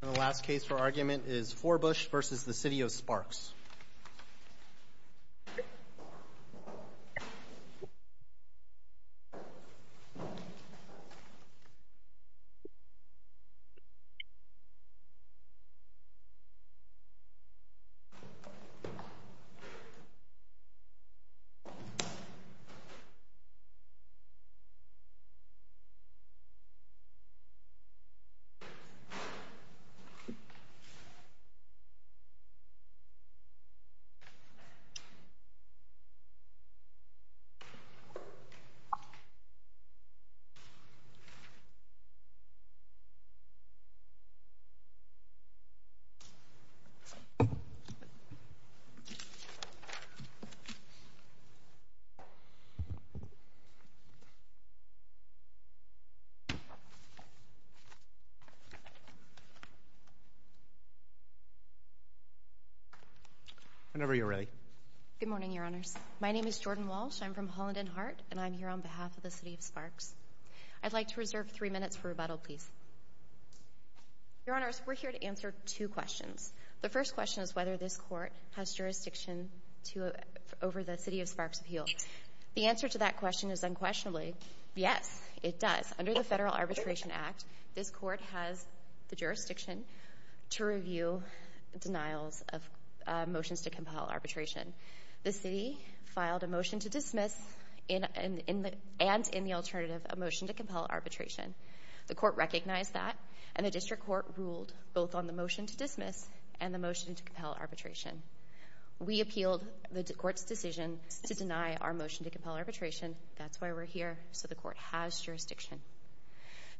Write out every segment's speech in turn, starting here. The last case for argument is Forbush vs. the City of Sparks. I'd like to reserve three minutes for rebuttal, please. Your Honors, we're here to answer two questions. The first question is whether this Court has jurisdiction over the City of Sparks appeal. The answer to that question is unquestionably, yes, it does. Under the Federal Arbitration Act, this Court has the jurisdiction to review denials of motions to compel arbitration. The City filed a motion to dismiss and, in the alternative, a motion to compel arbitration. The Court recognized that, and the District Court ruled both on the motion to dismiss and the motion to compel arbitration. We appealed the Court's decision to deny our motion to compel arbitration. That's why we're here, so the Court has jurisdiction.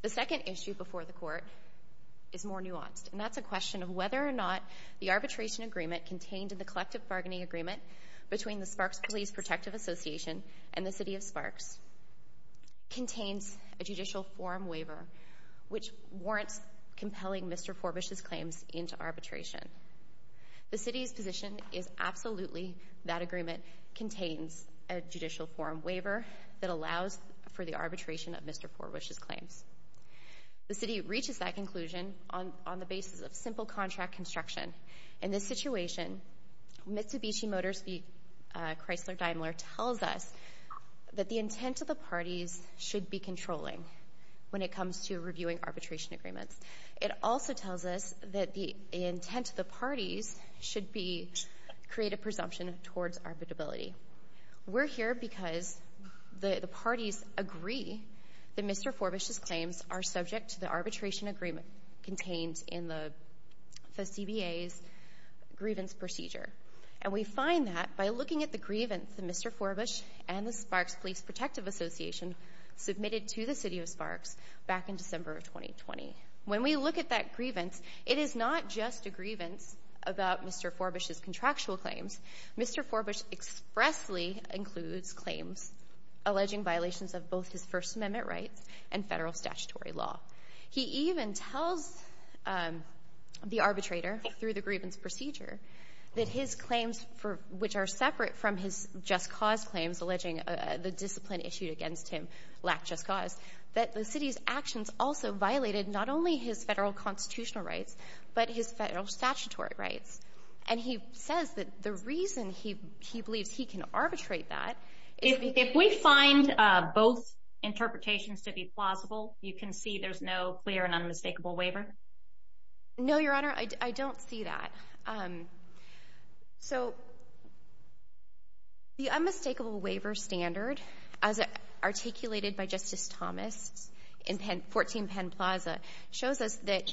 The second issue before the Court is more nuanced, and that's a question of whether or not the arbitration agreement contained in the collective bargaining agreement between the Sparks Police Protective Association and the City of Sparks contains a judicial forum waiver which warrants compelling Mr. Forbush's claims into arbitration. The City's position is absolutely that agreement contains a judicial forum waiver that allows for the arbitration of Mr. Forbush's claims. The City reaches that conclusion on the basis of simple contract construction. In this situation, Mitsubishi Motors v. Chrysler Daimler tells us that the intent of the parties should be controlling when it comes to reviewing arbitration agreements. It also tells us that the intent of the parties should be to create a presumption towards arbitrability. We're here because the parties agree that Mr. Forbush's claims are subject to the arbitration agreement contained in the CBA's grievance procedure, and we find that by looking at the grievance that Mr. Forbush and the Sparks Police Protective Association submitted to the City of Sparks back in December of 2020. When we look at that grievance, it is not just a grievance about Mr. Forbush's contractual claims. Mr. Forbush expressly includes claims alleging violations of both his First Amendment rights and Federal statutory law. He even tells the arbitrator, through the grievance procedure, that his claims for — which are separate from his just cause claims alleging the discipline issued against him lacked just cause, that the City's actions also violated not only his Federal constitutional rights, but his Federal statutory rights. And he says that the reason he believes he can arbitrate that is — If we find both interpretations to be plausible, you can see there's no clear and unmistakable waiver? No, Your Honor, I don't see that. So, the unmistakable waiver standard, as articulated by Justice Thomas in 14 Penn Plaza, shows us that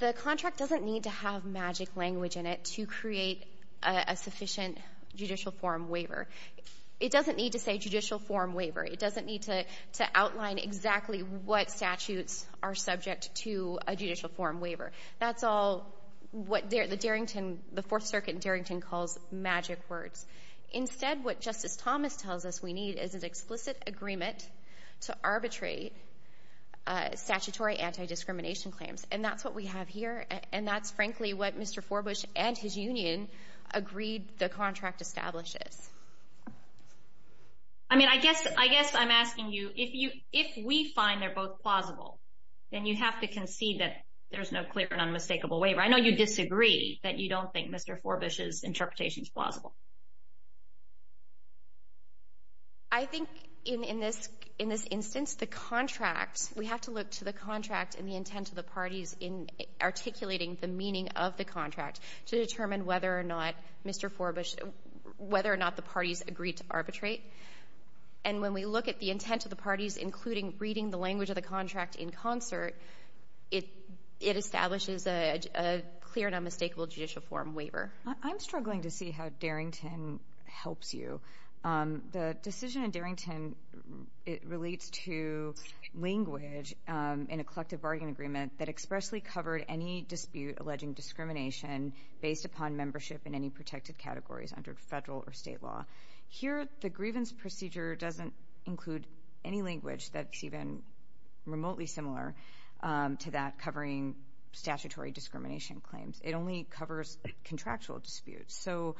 the contract doesn't need to have magic language in it to create a sufficient judicial forum waiver. It doesn't need to say judicial forum waiver. It doesn't need to outline exactly what statutes are subject to a judicial forum waiver. That's all what the 4th Circuit in Darrington calls magic words. Instead, what Justice Thomas tells us we need is an explicit agreement to arbitrate statutory anti-discrimination claims. And that's what we have here, and that's frankly what Mr. Forbush and his union agreed the contract establishes. I mean, I guess I'm asking you, if we find they're both plausible, then you have to declare an unmistakable waiver. I know you disagree that you don't think Mr. Forbush's interpretation is plausible. I think in this instance, the contract, we have to look to the contract and the intent of the parties in articulating the meaning of the contract to determine whether or not Mr. Forbush, whether or not the parties agreed to arbitrate. And when we look at the intent of the parties, including reading the language of the contract in concert, it establishes a clear and unmistakable judicial forum waiver. I'm struggling to see how Darrington helps you. The decision in Darrington, it relates to language in a collective bargaining agreement that expressly covered any dispute alleging discrimination based upon membership in any protected categories under federal or state law. Here, the grievance procedure doesn't include any language that's even remotely similar to that covering statutory discrimination claims. It only covers contractual disputes. So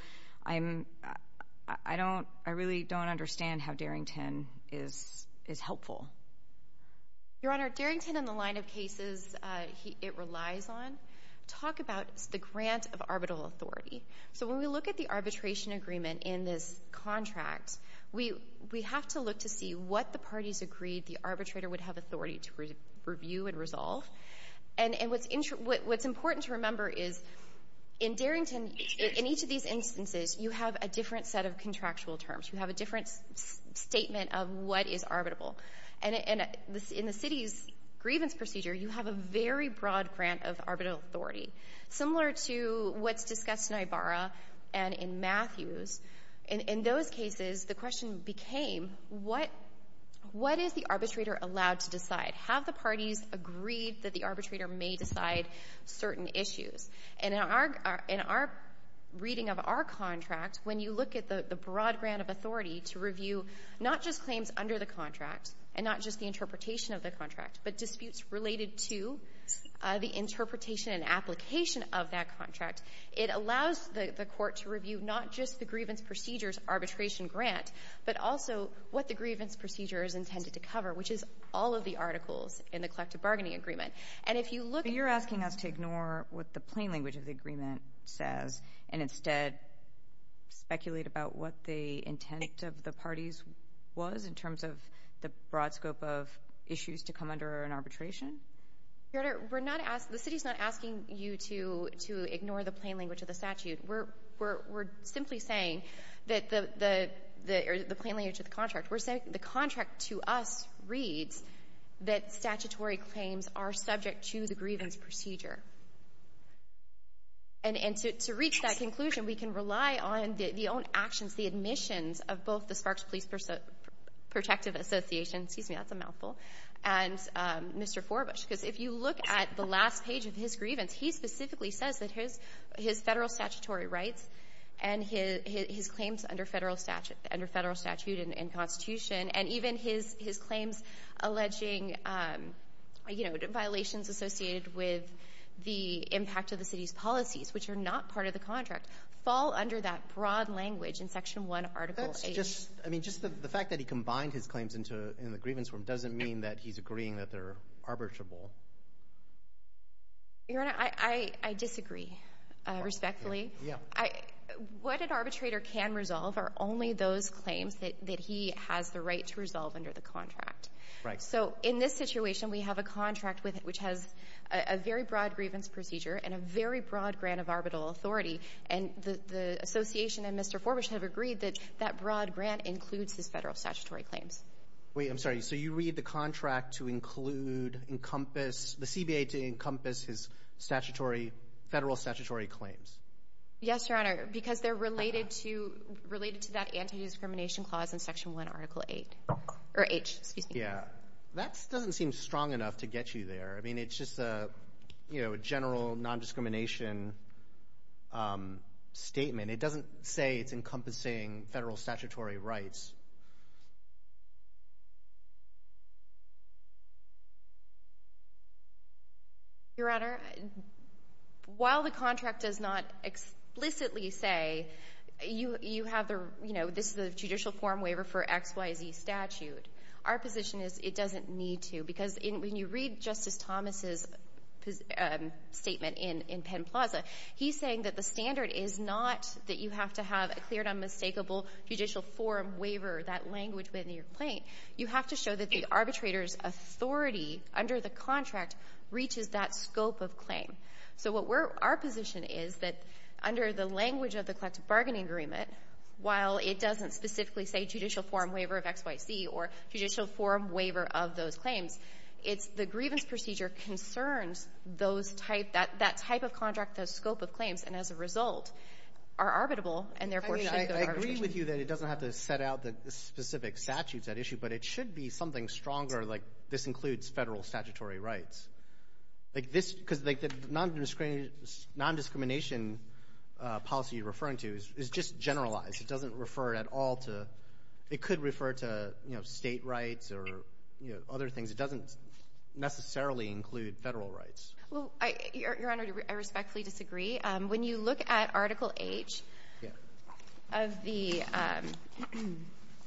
I'm, I don't, I really don't understand how Darrington is, is helpful. Your Honor, Darrington in the line of cases it relies on, talk about the grant of arbitral authority. So when we look at the arbitration agreement in this contract, we have to look to see what the parties agreed the arbitrator would have authority to review and resolve. And what's important to remember is in Darrington, in each of these instances, you have a different set of contractual terms. You have a different statement of what is arbitrable. And in the city's grievance procedure, you have a very broad grant of arbitral authority. Similar to what's discussed in Ibarra and in Matthews, in those cases, the question became what, what is the arbitrator allowed to decide? Have the parties agreed that the arbitrator may decide certain issues? And in our, in our reading of our contract, when you look at the broad grant of authority to review not just claims under the contract and not just the interpretation of the contract, but disputes related to the interpretation and application of that contract, it allows the, the court to review not just the grievance procedure's arbitration grant, but also what the grievance procedure is intended to cover, which is all of the articles in the collective bargaining agreement. And if you look at- But you're asking us to ignore what the plain language of the agreement says and instead speculate about what the intent of the parties was in terms of the broad scope of issues to come under an arbitration? Your Honor, we're not asking, the city's not asking you to, to ignore the plain language of the statute. We're, we're, we're simply saying that the, the, the plain language of the contract, we're saying the contract to us reads that statutory claims are subject to the grievance procedure. And to, to reach that conclusion, we can rely on the, the own actions, the admissions of both the Sparks Police Protective Association, excuse me, that's a mouthful, and Mr. Forbush. Because if you look at the last page of his grievance, he specifically says that his, his Federal statutory rights and his, his claims under Federal statute, under Federal statute and Constitution, and even his, his claims alleging, you know, violations associated with the impact of the city's policies, which are not part of the contract, fall under that broad language in Section 1, Article 8. So just, I mean, just the, the fact that he combined his claims into, in the grievance form doesn't mean that he's agreeing that they're arbitrable. Your Honor, I, I, I disagree, respectfully. Yeah. I, what an arbitrator can resolve are only those claims that, that he has the right to resolve under the contract. Right. So in this situation, we have a contract with, which has a, a very broad grievance procedure and a very broad grant of arbitral authority. And the, the association and Mr. Forbush have agreed that that broad grant includes his Federal statutory claims. Wait, I'm sorry. So you read the contract to include, encompass, the CBA to encompass his statutory, Federal statutory claims? Yes, Your Honor, because they're related to, related to that anti-discrimination clause in Section 1, Article 8, or H, excuse me. Yeah. That doesn't seem strong enough to get you there. I mean, it's just a, you know, a general non-discrimination statement. It doesn't say it's encompassing Federal statutory rights. Your Honor, while the contract does not explicitly say, you, you have the, you know, this is the judicial form waiver for X, Y, Z statute, our position is it doesn't need to. Because in, when you read Justice Thomas' position, statement in, in Penn Plaza, he's saying that the standard is not that you have to have a clear and unmistakable judicial form waiver, that language within your claim. You have to show that the arbitrator's authority under the contract reaches that scope of claim. So what we're, our position is that under the language of the collective bargaining agreement, while it doesn't specifically say judicial form waiver of X, Y, Z, or judicial form waiver of those claims, it's the grievance procedure concerns those type, that, that type of contract, that scope of claims, and as a result, are arbitrable, and therefore should go to arbitration. I mean, I agree with you that it doesn't have to set out the specific statutes at issue, but it should be something stronger, like this includes Federal statutory rights. Like this, because like the non-discrimination policy you're referring to is just generalized. It doesn't refer at all to, it could refer to, you know, state rights or, you know, other things. It doesn't necessarily include Federal rights. Well, I, Your Honor, I respectfully disagree. When you look at Article H of the,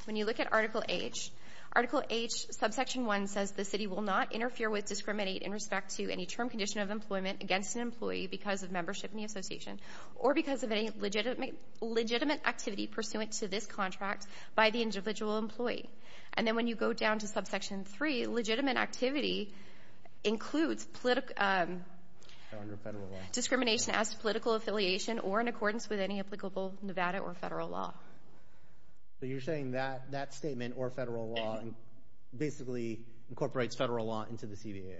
when you look at Article H, Article H, subsection 1 says the city will not interfere with, discriminate in respect to any term condition of employment against an employee because of membership in the association, or because of any legitimate, legitimate activity pursuant to this contract by the individual employee. And then when you go down to Subsection 3, legitimate activity includes political, discrimination as to political affiliation or in accordance with any applicable Nevada or Federal law. So you're saying that, that statement or Federal law basically incorporates Federal law into the CBA?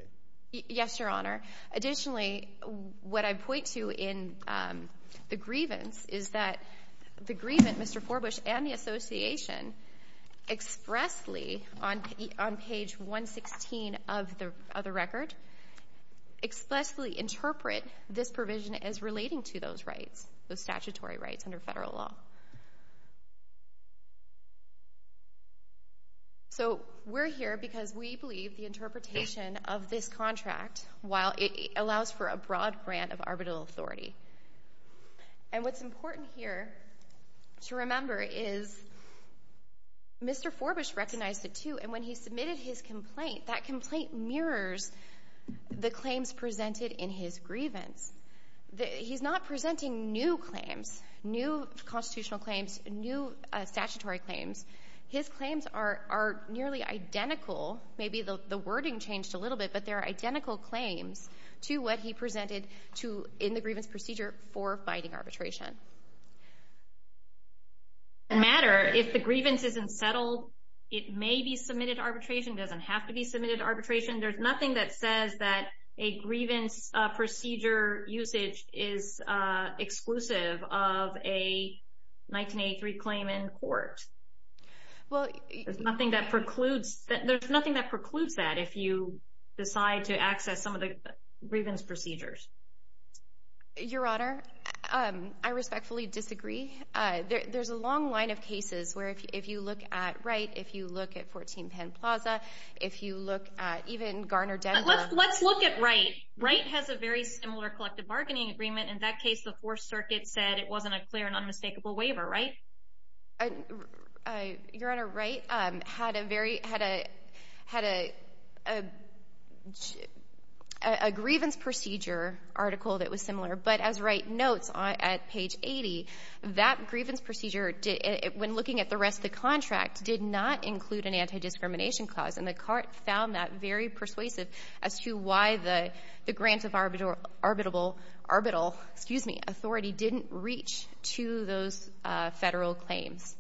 Yes, Your Honor. Additionally, what I point to in the grievance is that the grievance, Mr. Forbush and the association expressly on page 116 of the record, expressly interpret this provision as relating to those rights, those statutory rights under Federal law. So, we're here because we believe the interpretation of this contract while it allows for a broad grant of arbitral authority. And what's important here to remember is Mr. Forbush recognized it, too, and when he submitted his complaint, that complaint mirrors the claims presented in his grievance. He's not presenting new claims, new constitutional claims, new statutory claims. His claims are nearly identical, maybe the wording changed a little bit, but they're identical claims to what he presented to, in the grievance procedure for fighting arbitration. It doesn't matter if the grievance isn't settled. It may be submitted to arbitration, doesn't have to be submitted to arbitration. There's nothing that says that a grievance procedure usage is exclusive of a 1983 claim in court. There's nothing that precludes that if you decide to access some of the grievance procedures. Your Honor, I respectfully disagree. There's a long line of cases where if you look at Wright, if you look at 14 Penn Plaza, if you look at even Garner Denver. Let's look at Wright. Wright has a very similar collective bargaining agreement. In that case, the Fourth Circuit said it wasn't a clear and unmistakable waiver, right? Your Honor, Wright had a grievance procedure article that was similar, but as Wright notes at page 80, that grievance procedure, when looking at the rest of the contract, did not include an anti-discrimination clause, and the court found that very persuasive as to why the grant of arbitral authority didn't reach to those federal claims.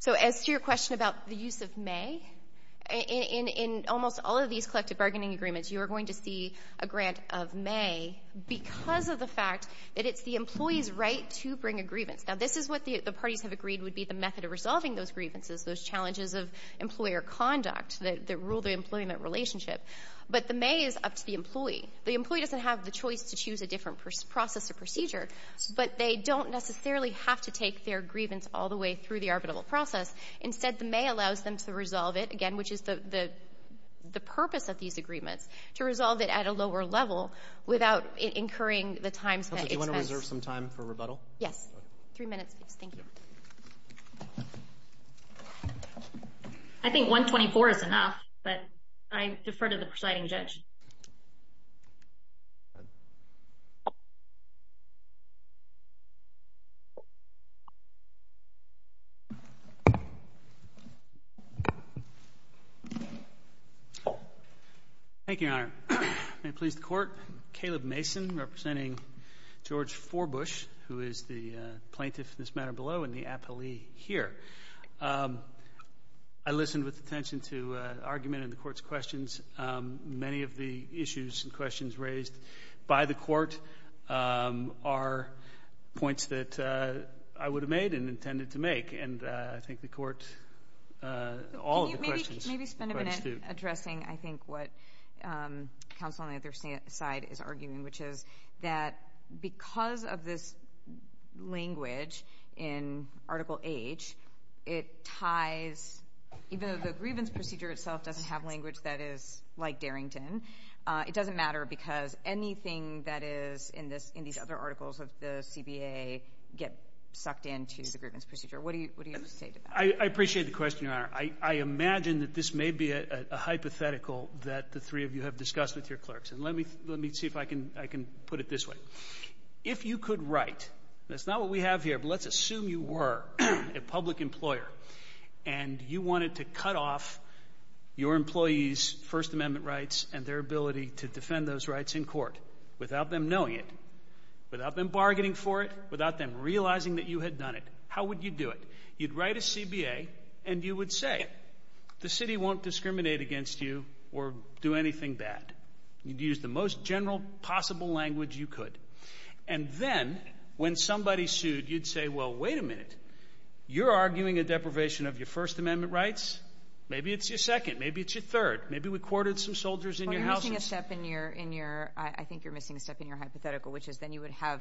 So as to your question about the use of may, in almost all of these collective bargaining agreements, you are going to see a grant of may because of the fact that it's the employee's right to bring a grievance. Now, this is what the parties have agreed would be the method of resolving those grievances, those challenges of employer conduct that rule the employment relationship. But the may is up to the employee. The employee doesn't have the choice to choose a different process or procedure, but they don't necessarily have to take their grievance all the way through the arbitral process. Instead, the may allows them to resolve it, again, which is the purpose of these agreements, to resolve it at a lower level without incurring the time that it takes. I think 124 is enough, but I defer to the presiding judge. I listened with attention to argument in the court's questions. Many of the issues and questions raised by the court are points that I would have made and intended to make, and I think the court, all of the questions, were quite astute. Can I maybe spend a minute addressing, I think, what counsel on the other side is arguing, which is that because of this language in Article H, it ties, even though the grievance procedure itself doesn't have language that is like Darrington, it doesn't matter because anything that is in these other articles of the CBA get sucked into the grievance procedure. What do you say to that? I appreciate the question, Your Honor. I imagine that this may be a hypothetical that the three of you have discussed with your clerks, and let me see if I can put it this way. If you could write, that's not what we have here, but let's assume you were a public employer and you wanted to cut off your employees' First Amendment rights and their ability to defend those rights in court without them knowing it, without them bargaining for it, without them realizing that you had done it, how would you do it? You'd write a CBA and you would say, the city won't discriminate against you or do anything bad. You'd use the most general possible language you could. And then, when somebody sued, you'd say, well, wait a minute. You're arguing a deprivation of your First Amendment rights. Maybe it's your second. Maybe it's your third. Maybe we courted some soldiers in your houses. Well, you're missing a step in your, I think you're missing a step in your hypothetical, which is then you would have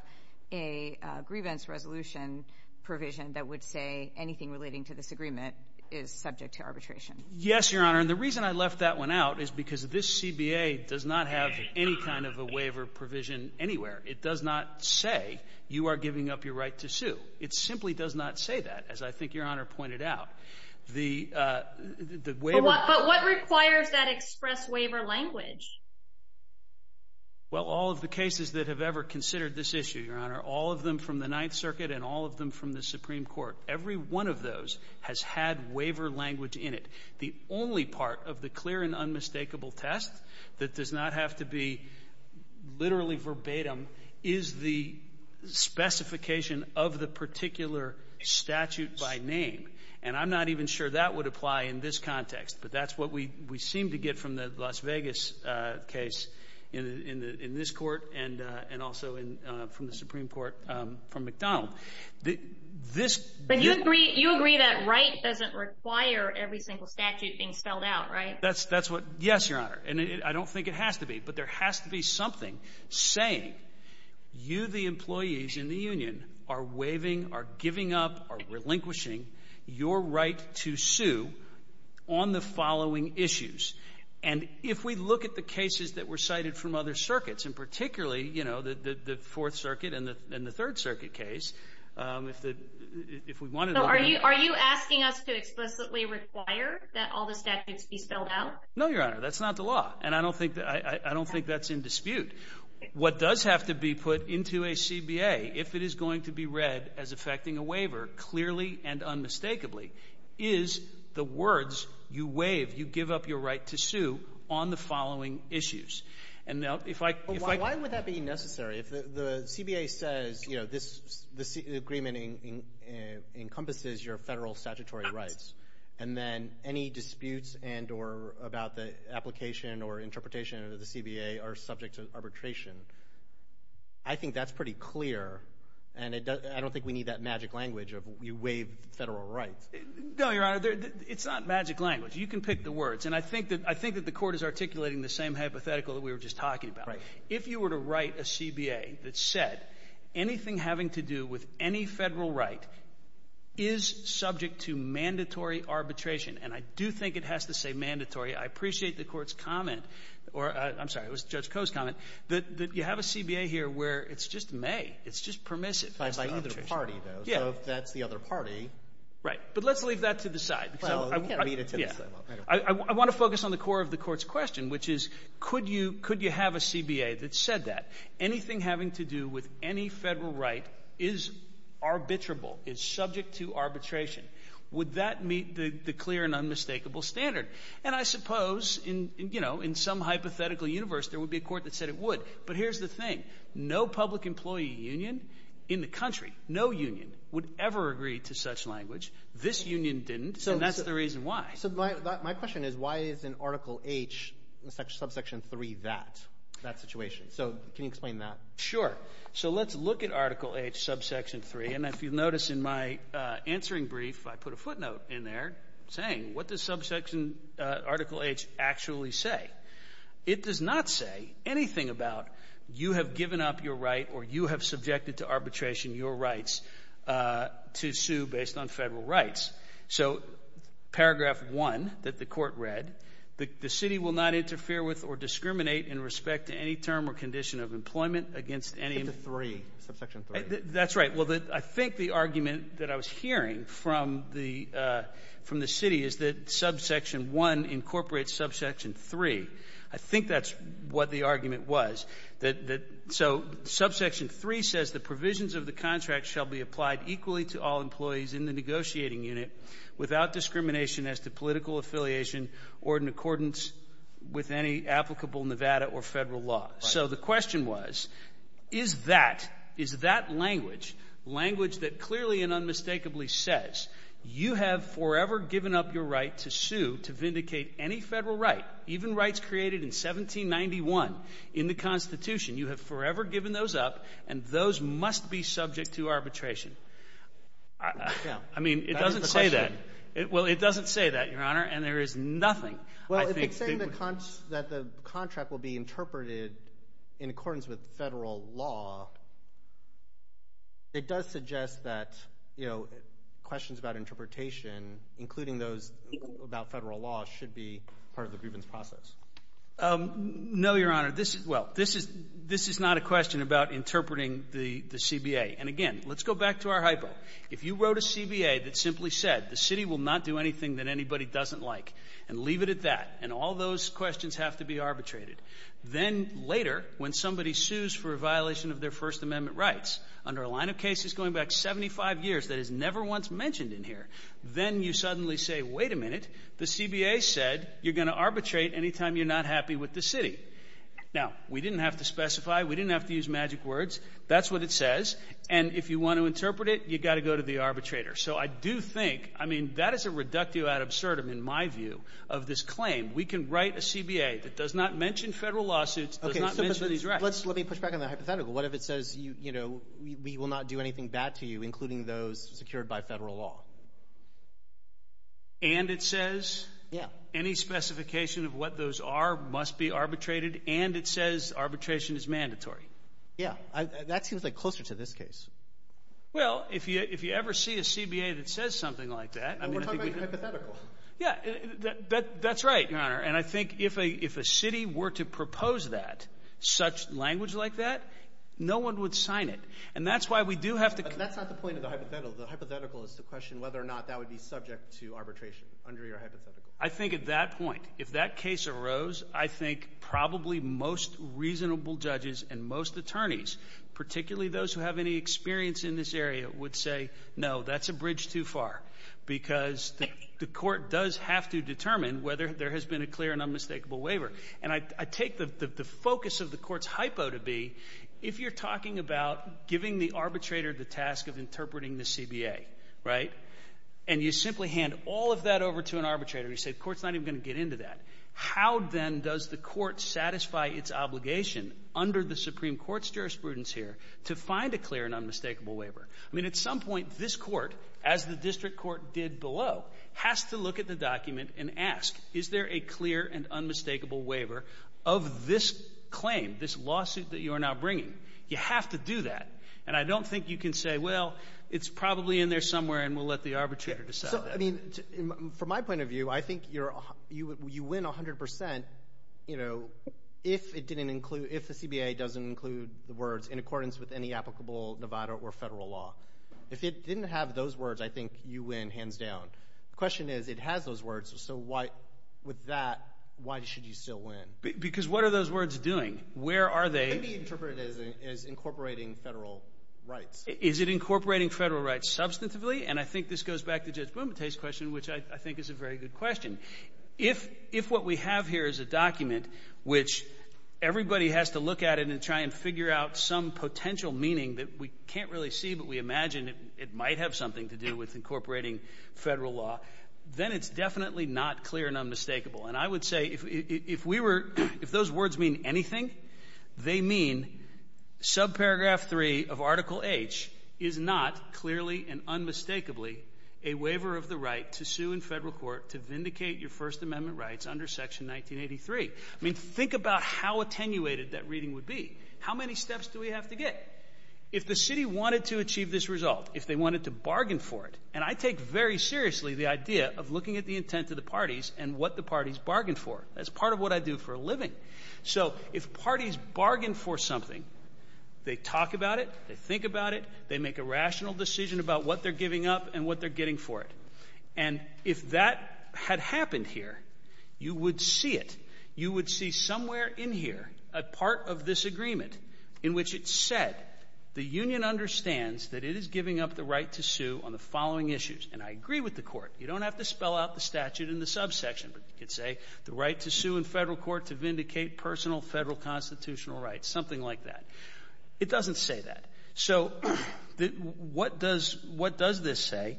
a grievance resolution provision that would say anything relating to this agreement is subject to arbitration. Yes, Your Honor, and the reason I left that one out is because this CBA does not have any kind of a waiver provision anywhere. It does not say you are giving up your right to sue. It simply does not say that, as I think Your Honor pointed out. The waiver- But what requires that express waiver language? Well, all of the cases that have ever considered this issue, Your Honor, all of them from the Ninth Circuit and all of them from the Supreme Court, every one of those has had waiver language in it. The only part of the clear and unmistakable test that does not have to be literally verbatim is the specification of the particular statute by name. And I'm not even sure that would apply in this context, but that's what we seem to get from the Las Vegas case in this court and also from the Supreme Court from McDonald. This- But you agree that right doesn't require every single statute being spelled out, right? That's what- Yes, Your Honor, and I don't think it has to be, but there has to be something saying you, the employees in the union, are waiving, are giving up, are relinquishing your right to sue on the following issues. And if we look at the cases that were cited from other circuits, and particularly, you know, the Fourth Circuit and the Third Circuit case, if we wanted to- Are you asking us to explicitly require that all the statutes be spelled out? No, Your Honor, that's not the law, and I don't think that's in dispute. What does have to be put into a CBA if it is going to be read as affecting a waiver clearly and unmistakably is the words, you waive, you give up your right to sue on the following issues. And now, if I- Why would that be necessary if the CBA says, you know, this agreement encompasses your federal statutory rights, and then any disputes and or about the application or interpretation of the CBA are subject to arbitration. I think that's pretty clear, and I don't think we need that magic language of you waive federal rights. No, Your Honor, it's not magic language. You can pick the words. And I think that the Court is articulating the same hypothetical that we were just talking about. Right. If you were to write a CBA that said anything having to do with any federal right is subject to mandatory arbitration, and I do think it has to say mandatory, I appreciate the Court's comment, that you have a CBA here where it's just may. It's just permissive. By either party, though. Yeah. So if that's the other party. Right. But let's leave that to the side. Well, I mean, it's- Yeah. I want to focus on the core of the Court's question, which is, could you have a CBA that said that? Anything having to do with any federal right is arbitrable, is subject to arbitration. Would that meet the clear and unmistakable standard? And I suppose, you know, in some hypothetical universe, there would be a Court that said it would. But here's the thing. No public employee union in the country, no union, would ever agree to such language. This union didn't. So that's the reason why. So my question is, why isn't Article H, subsection 3, that, that situation? So can you explain that? Sure. So let's look at Article H, subsection 3. And if you'll notice in my answering brief, I put a footnote in there saying, what does subsection, Article H, actually say? It does not say anything about, you have given up your right or you have subjected to arbitration your rights to sue based on federal rights. So paragraph 1 that the Court read, the city will not interfere with or discriminate in respect to any term or condition of employment against any- But the 3, subsection 3. That's right. Well, I think the argument that I was hearing from the city is that subsection 1 incorporates subsection 3. I think that's what the argument was. So subsection 3 says the provisions of the contract shall be applied equally to all employees in the negotiating unit without discrimination as to political affiliation or in accordance with any applicable Nevada or federal law. So the question was, is that, is that language, language that clearly and unmistakably says you have forever given up your right to sue to vindicate any federal right, even rights created in 1791 in the Constitution, you have forever given those up and those must be subject to arbitration? Yeah. I mean, it doesn't say that. That is the question. Well, it doesn't say that, Your Honor, and there is nothing, I think, that would- in accordance with federal law, it does suggest that, you know, questions about interpretation, including those about federal law, should be part of the grievance process. No, Your Honor. This is- well, this is, this is not a question about interpreting the CBA. And again, let's go back to our hypo. If you wrote a CBA that simply said the city will not do anything that anybody doesn't like and leave it at that, and all those questions have to be arbitrated, then later, when somebody sues for a violation of their First Amendment rights, under a line of cases going back 75 years that is never once mentioned in here, then you suddenly say, wait a minute, the CBA said you're going to arbitrate anytime you're not happy with the city. Now, we didn't have to specify. We didn't have to use magic words. That's what it says. And if you want to interpret it, you've got to go to the arbitrator. So I do think, I mean, that is a reductio ad absurdum, in my view, of this claim. We can write a CBA that does not mention federal lawsuits, does not mention these rights. Let's, let me push back on that hypothetical. What if it says, you know, we will not do anything bad to you, including those secured by federal law? And it says? Yeah. Any specification of what those are must be arbitrated, and it says arbitration is mandatory? Yeah. That seems like closer to this case. Well, if you, if you ever see a CBA that says something like that, I mean, I think we could. Well, we're talking about hypothetical. Yeah. That, that, that's right, Your Honor. And I think if a, if a city were to propose that, such language like that, no one would sign it. And that's why we do have to. But that's not the point of the hypothetical. The hypothetical is the question whether or not that would be subject to arbitration under your hypothetical. I think at that point, if that case arose, I think probably most reasonable judges and most attorneys, particularly those who have any experience in this area, would say, no, that's a bridge too far, because the court does have to determine whether there has been a clear and unmistakable waiver. And I, I take the, the, the focus of the court's hypo to be, if you're talking about giving the arbitrator the task of interpreting the CBA, right, and you simply hand all of that over to an arbitrator, you say, the court's not even going to get into that, how then does the court satisfy its obligation under the Supreme Court's jurisprudence here to find a clear and unmistakable waiver? I mean, at some point, this court, as the district court did below, has to look at the document and ask, is there a clear and unmistakable waiver of this claim, this lawsuit that you are now bringing? You have to do that. And I don't think you can say, well, it's probably in there somewhere, and we'll let the arbitrator decide that. I mean, from my point of view, I think you're, you win 100%, you know, if it didn't include, if the CBA doesn't include the words in accordance with any applicable Nevada or federal law. If it didn't have those words, I think you win hands down. The question is, it has those words, so why, with that, why should you still win? Because what are those words doing? Where are they? Maybe interpret it as incorporating federal rights. Is it incorporating federal rights substantively? And I think this goes back to Judge Bumate's question, which I think is a very good question. If what we have here is a document which everybody has to look at it and try and figure out some potential meaning that we can't really see, but we imagine it might have something to do with incorporating federal law, then it's definitely not clear and unmistakable. And I would say, if we were, if those words mean anything, they mean subparagraph 3 of a waiver of the right to sue in federal court to vindicate your First Amendment rights under Section 1983. I mean, think about how attenuated that reading would be. How many steps do we have to get? If the city wanted to achieve this result, if they wanted to bargain for it, and I take very seriously the idea of looking at the intent of the parties and what the parties bargained for. That's part of what I do for a living. So if parties bargain for something, they talk about it, they think about it, they make a rational decision about what they're giving up and what they're getting for it. And if that had happened here, you would see it. You would see somewhere in here a part of this agreement in which it said the union understands that it is giving up the right to sue on the following issues. And I agree with the Court. You don't have to spell out the statute in the subsection, but you could say the right to sue in federal court to vindicate personal federal constitutional rights, something like that. It doesn't say that. So what does this say?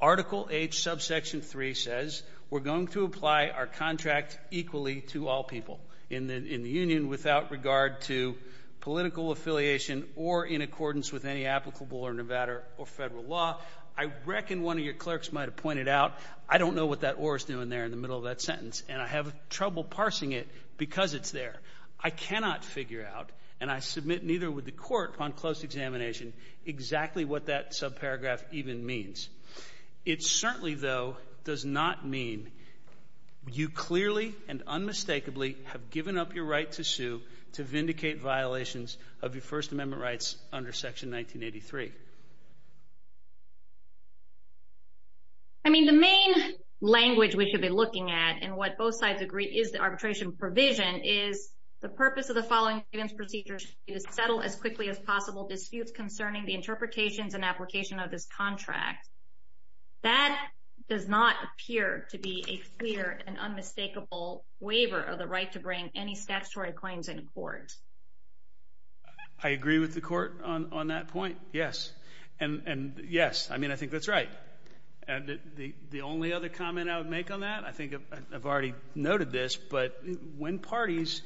Article H, subsection 3 says, we're going to apply our contract equally to all people in the union without regard to political affiliation or in accordance with any applicable or Nevada or federal law. I reckon one of your clerks might have pointed out, I don't know what that or is doing there in the middle of that sentence, and I have trouble parsing it because it's there. I cannot figure out, and I submit neither would the Court on close examination, exactly what that subparagraph even means. It certainly, though, does not mean you clearly and unmistakably have given up your right to sue to vindicate violations of your First Amendment rights under Section 1983. I mean, the main language we should be looking at and what both sides agree is the arbitration provision is the purpose of the following procedure is to settle as quickly as possible disputes concerning the interpretations and application of this contract. That does not appear to be a clear and unmistakable waiver of the right to bring any statutory claims in court. I agree with the Court on that point, yes, and yes, I mean, I think that's right. And the only other comment I would make on that, I think I've already noted this, but when parties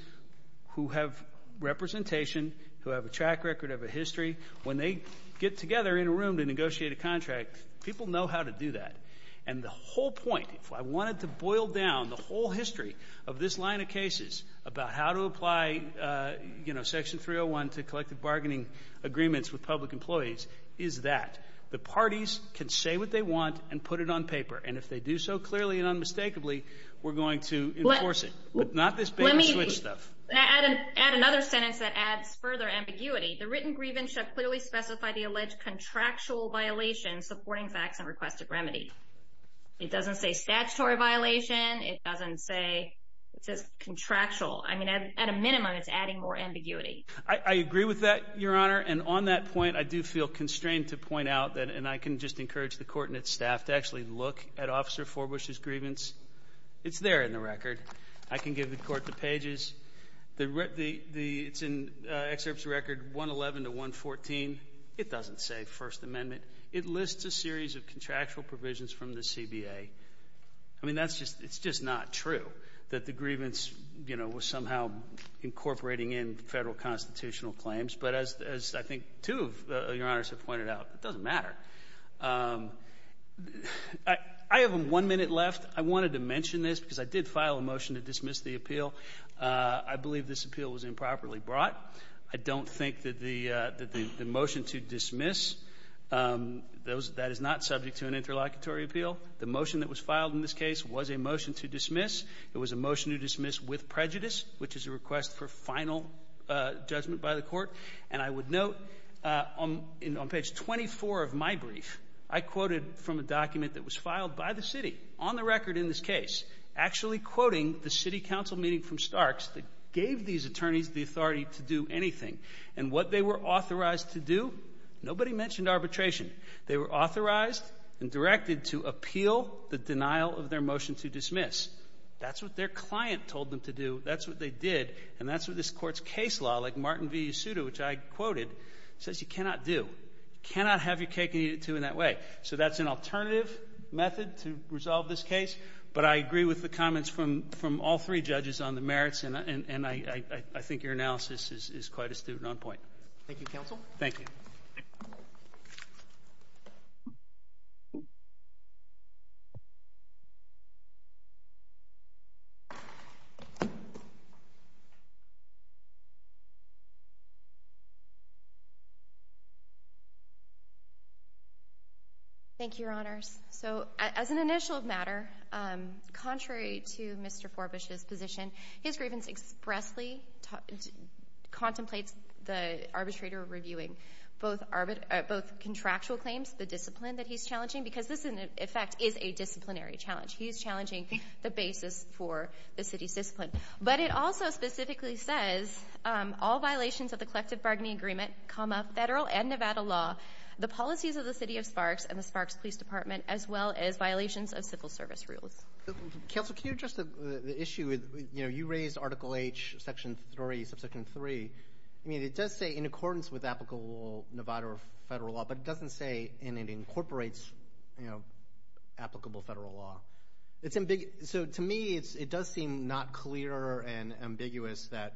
who have representation, who have a track record, have a history, when they get together in a room to negotiate a contract, people know how to do that. And the whole point, if I wanted to boil down the whole history of this line of cases about how to apply, you know, Section 301 to collective bargaining agreements with public employees is that the parties can say what they want and put it on paper. And if they do so clearly and unmistakably, we're going to enforce it, but not this baby switch stuff. Let me add another sentence that adds further ambiguity. The written grievance shall clearly specify the alleged contractual violation supporting facts and requested remedy. It doesn't say statutory violation. It doesn't say it says contractual. I mean, at a minimum, it's adding more ambiguity. I agree with that, Your Honor. And on that point, I do feel constrained to point out that, and I can just encourage the court and its staff to actually look at Officer Forbush's grievance. It's there in the record. I can give the court the pages. It's in excerpts record 111 to 114. It doesn't say First Amendment. It lists a series of contractual provisions from the CBA. I mean, that's just, it's just not true that the grievance, you know, was somehow incorporating in federal constitutional claims. But as I think two of Your Honors have pointed out, it doesn't matter. I have one minute left. I wanted to mention this because I did file a motion to dismiss the appeal. I believe this appeal was improperly brought. I don't think that the motion to dismiss, that is not subject to an interlocutory appeal. It was a motion to dismiss with prejudice, which is a request for final judgment by the court. And I would note on page 24 of my brief, I quoted from a document that was filed by the city on the record in this case, actually quoting the city council meeting from Starks that gave these attorneys the authority to do anything. And what they were authorized to do, nobody mentioned arbitration. They were authorized and directed to appeal the denial of their motion to dismiss. That's what their client told them to do. That's what they did. And that's what this Court's case law, like Martin v. Yasuda, which I quoted, says you cannot do. You cannot have your cake and eat it, too, in that way. So that's an alternative method to resolve this case. But I agree with the comments from all three judges on the merits, and I think your analysis is quite astute and on point. Thank you, counsel. Thank you. Thank you, Your Honors. So as an initial matter, contrary to Mr. Forbush's position, his grievance expressly contemplates the arbitrator reviewing both contractual claims, the discipline that he's challenging, because this, in effect, is a disciplinary challenge. He's challenging the basis for the city's discipline. But it also specifically says, all violations of the collective bargaining agreement, comma, federal and Nevada law, the policies of the City of Sparks and the Sparks Police Department, as well as violations of civil service rules. Counsel, can you address the issue with, you know, you raised Article H, Section 3, Subsection 3. I mean, it does say in accordance with applicable Nevada or federal law, but it doesn't say in it incorporates, you know, applicable federal law. It's ambiguous. So to me, it does seem not clear and ambiguous that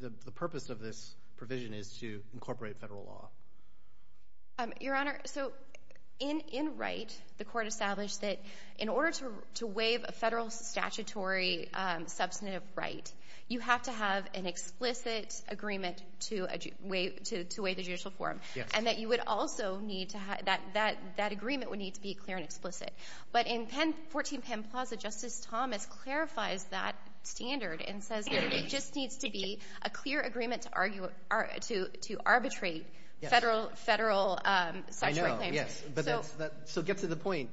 the purpose of this provision is to incorporate federal law. Your Honor, so in Wright, the Court established that in order to waive a federal statutory substantive right, you have to have an explicit agreement to waive the judicial forum. And that you would also need to have, that agreement would need to be clear and explicit. But in 14 Penn Plaza, Justice Thomas clarifies that standard and says that it just needs to be a clear agreement to arbitrate federal statutory claims. So get to the point.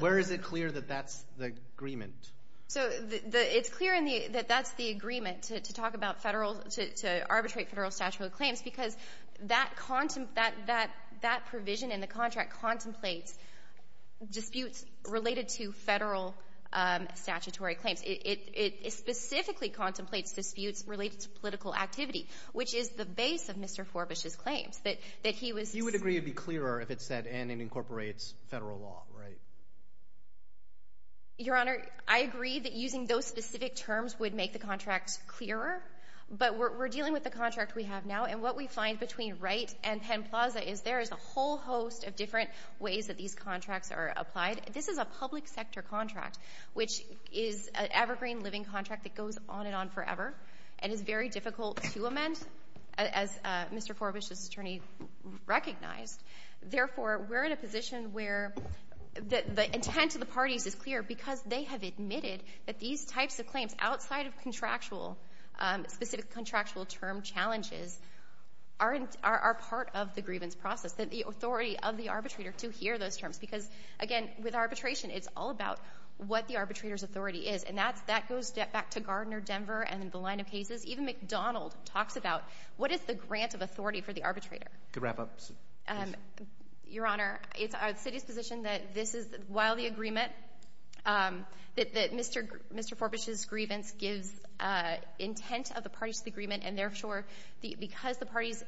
Where is it clear that that's the agreement? So it's clear in the, that that's the agreement to talk about federal, to arbitrate federal statutory claims, because that provision in the contract contemplates disputes related to federal statutory claims. It specifically contemplates disputes related to political activity, which is the base of Mr. Forbush's claims, that he was He would agree it would be clearer if it said, and it incorporates federal law, right? Your Honor, I agree that using those specific terms would make the contract clearer. But we're dealing with the contract we have now, and what we find between Wright and Penn Plaza is there is a whole host of different ways that these contracts are applied. This is a public sector contract, which is an evergreen living contract that goes on and on forever and is very difficult to amend, as Mr. Forbush's attorney recognized. Therefore, we're in a position where the intent of the parties is clear because they have admitted that these types of claims, outside of contractual, specific contractual term challenges, are part of the grievance process, that the authority of the arbitrator to hear those terms, because, again, with arbitration, it's all about what the arbitrator's authority is. And that goes back to Gardner Denver and the line of cases. Even McDonald talks about, what is the grant of authority for the arbitrator? To wrap up, please. Your Honor, it's our city's position that this is, while the agreement, that Mr. Forbush's grievance gives intent of the parties to the agreement, and therefore, because the parties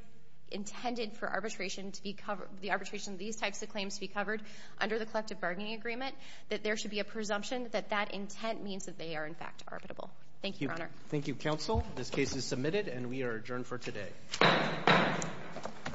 intended for arbitration to be, the arbitration of these types of claims to be covered under the collective bargaining agreement, that there should be a presumption that that intent means that they are, in fact, arbitrable. Thank you, Your Honor. Thank you, counsel. This case is submitted, and we are adjourned for today.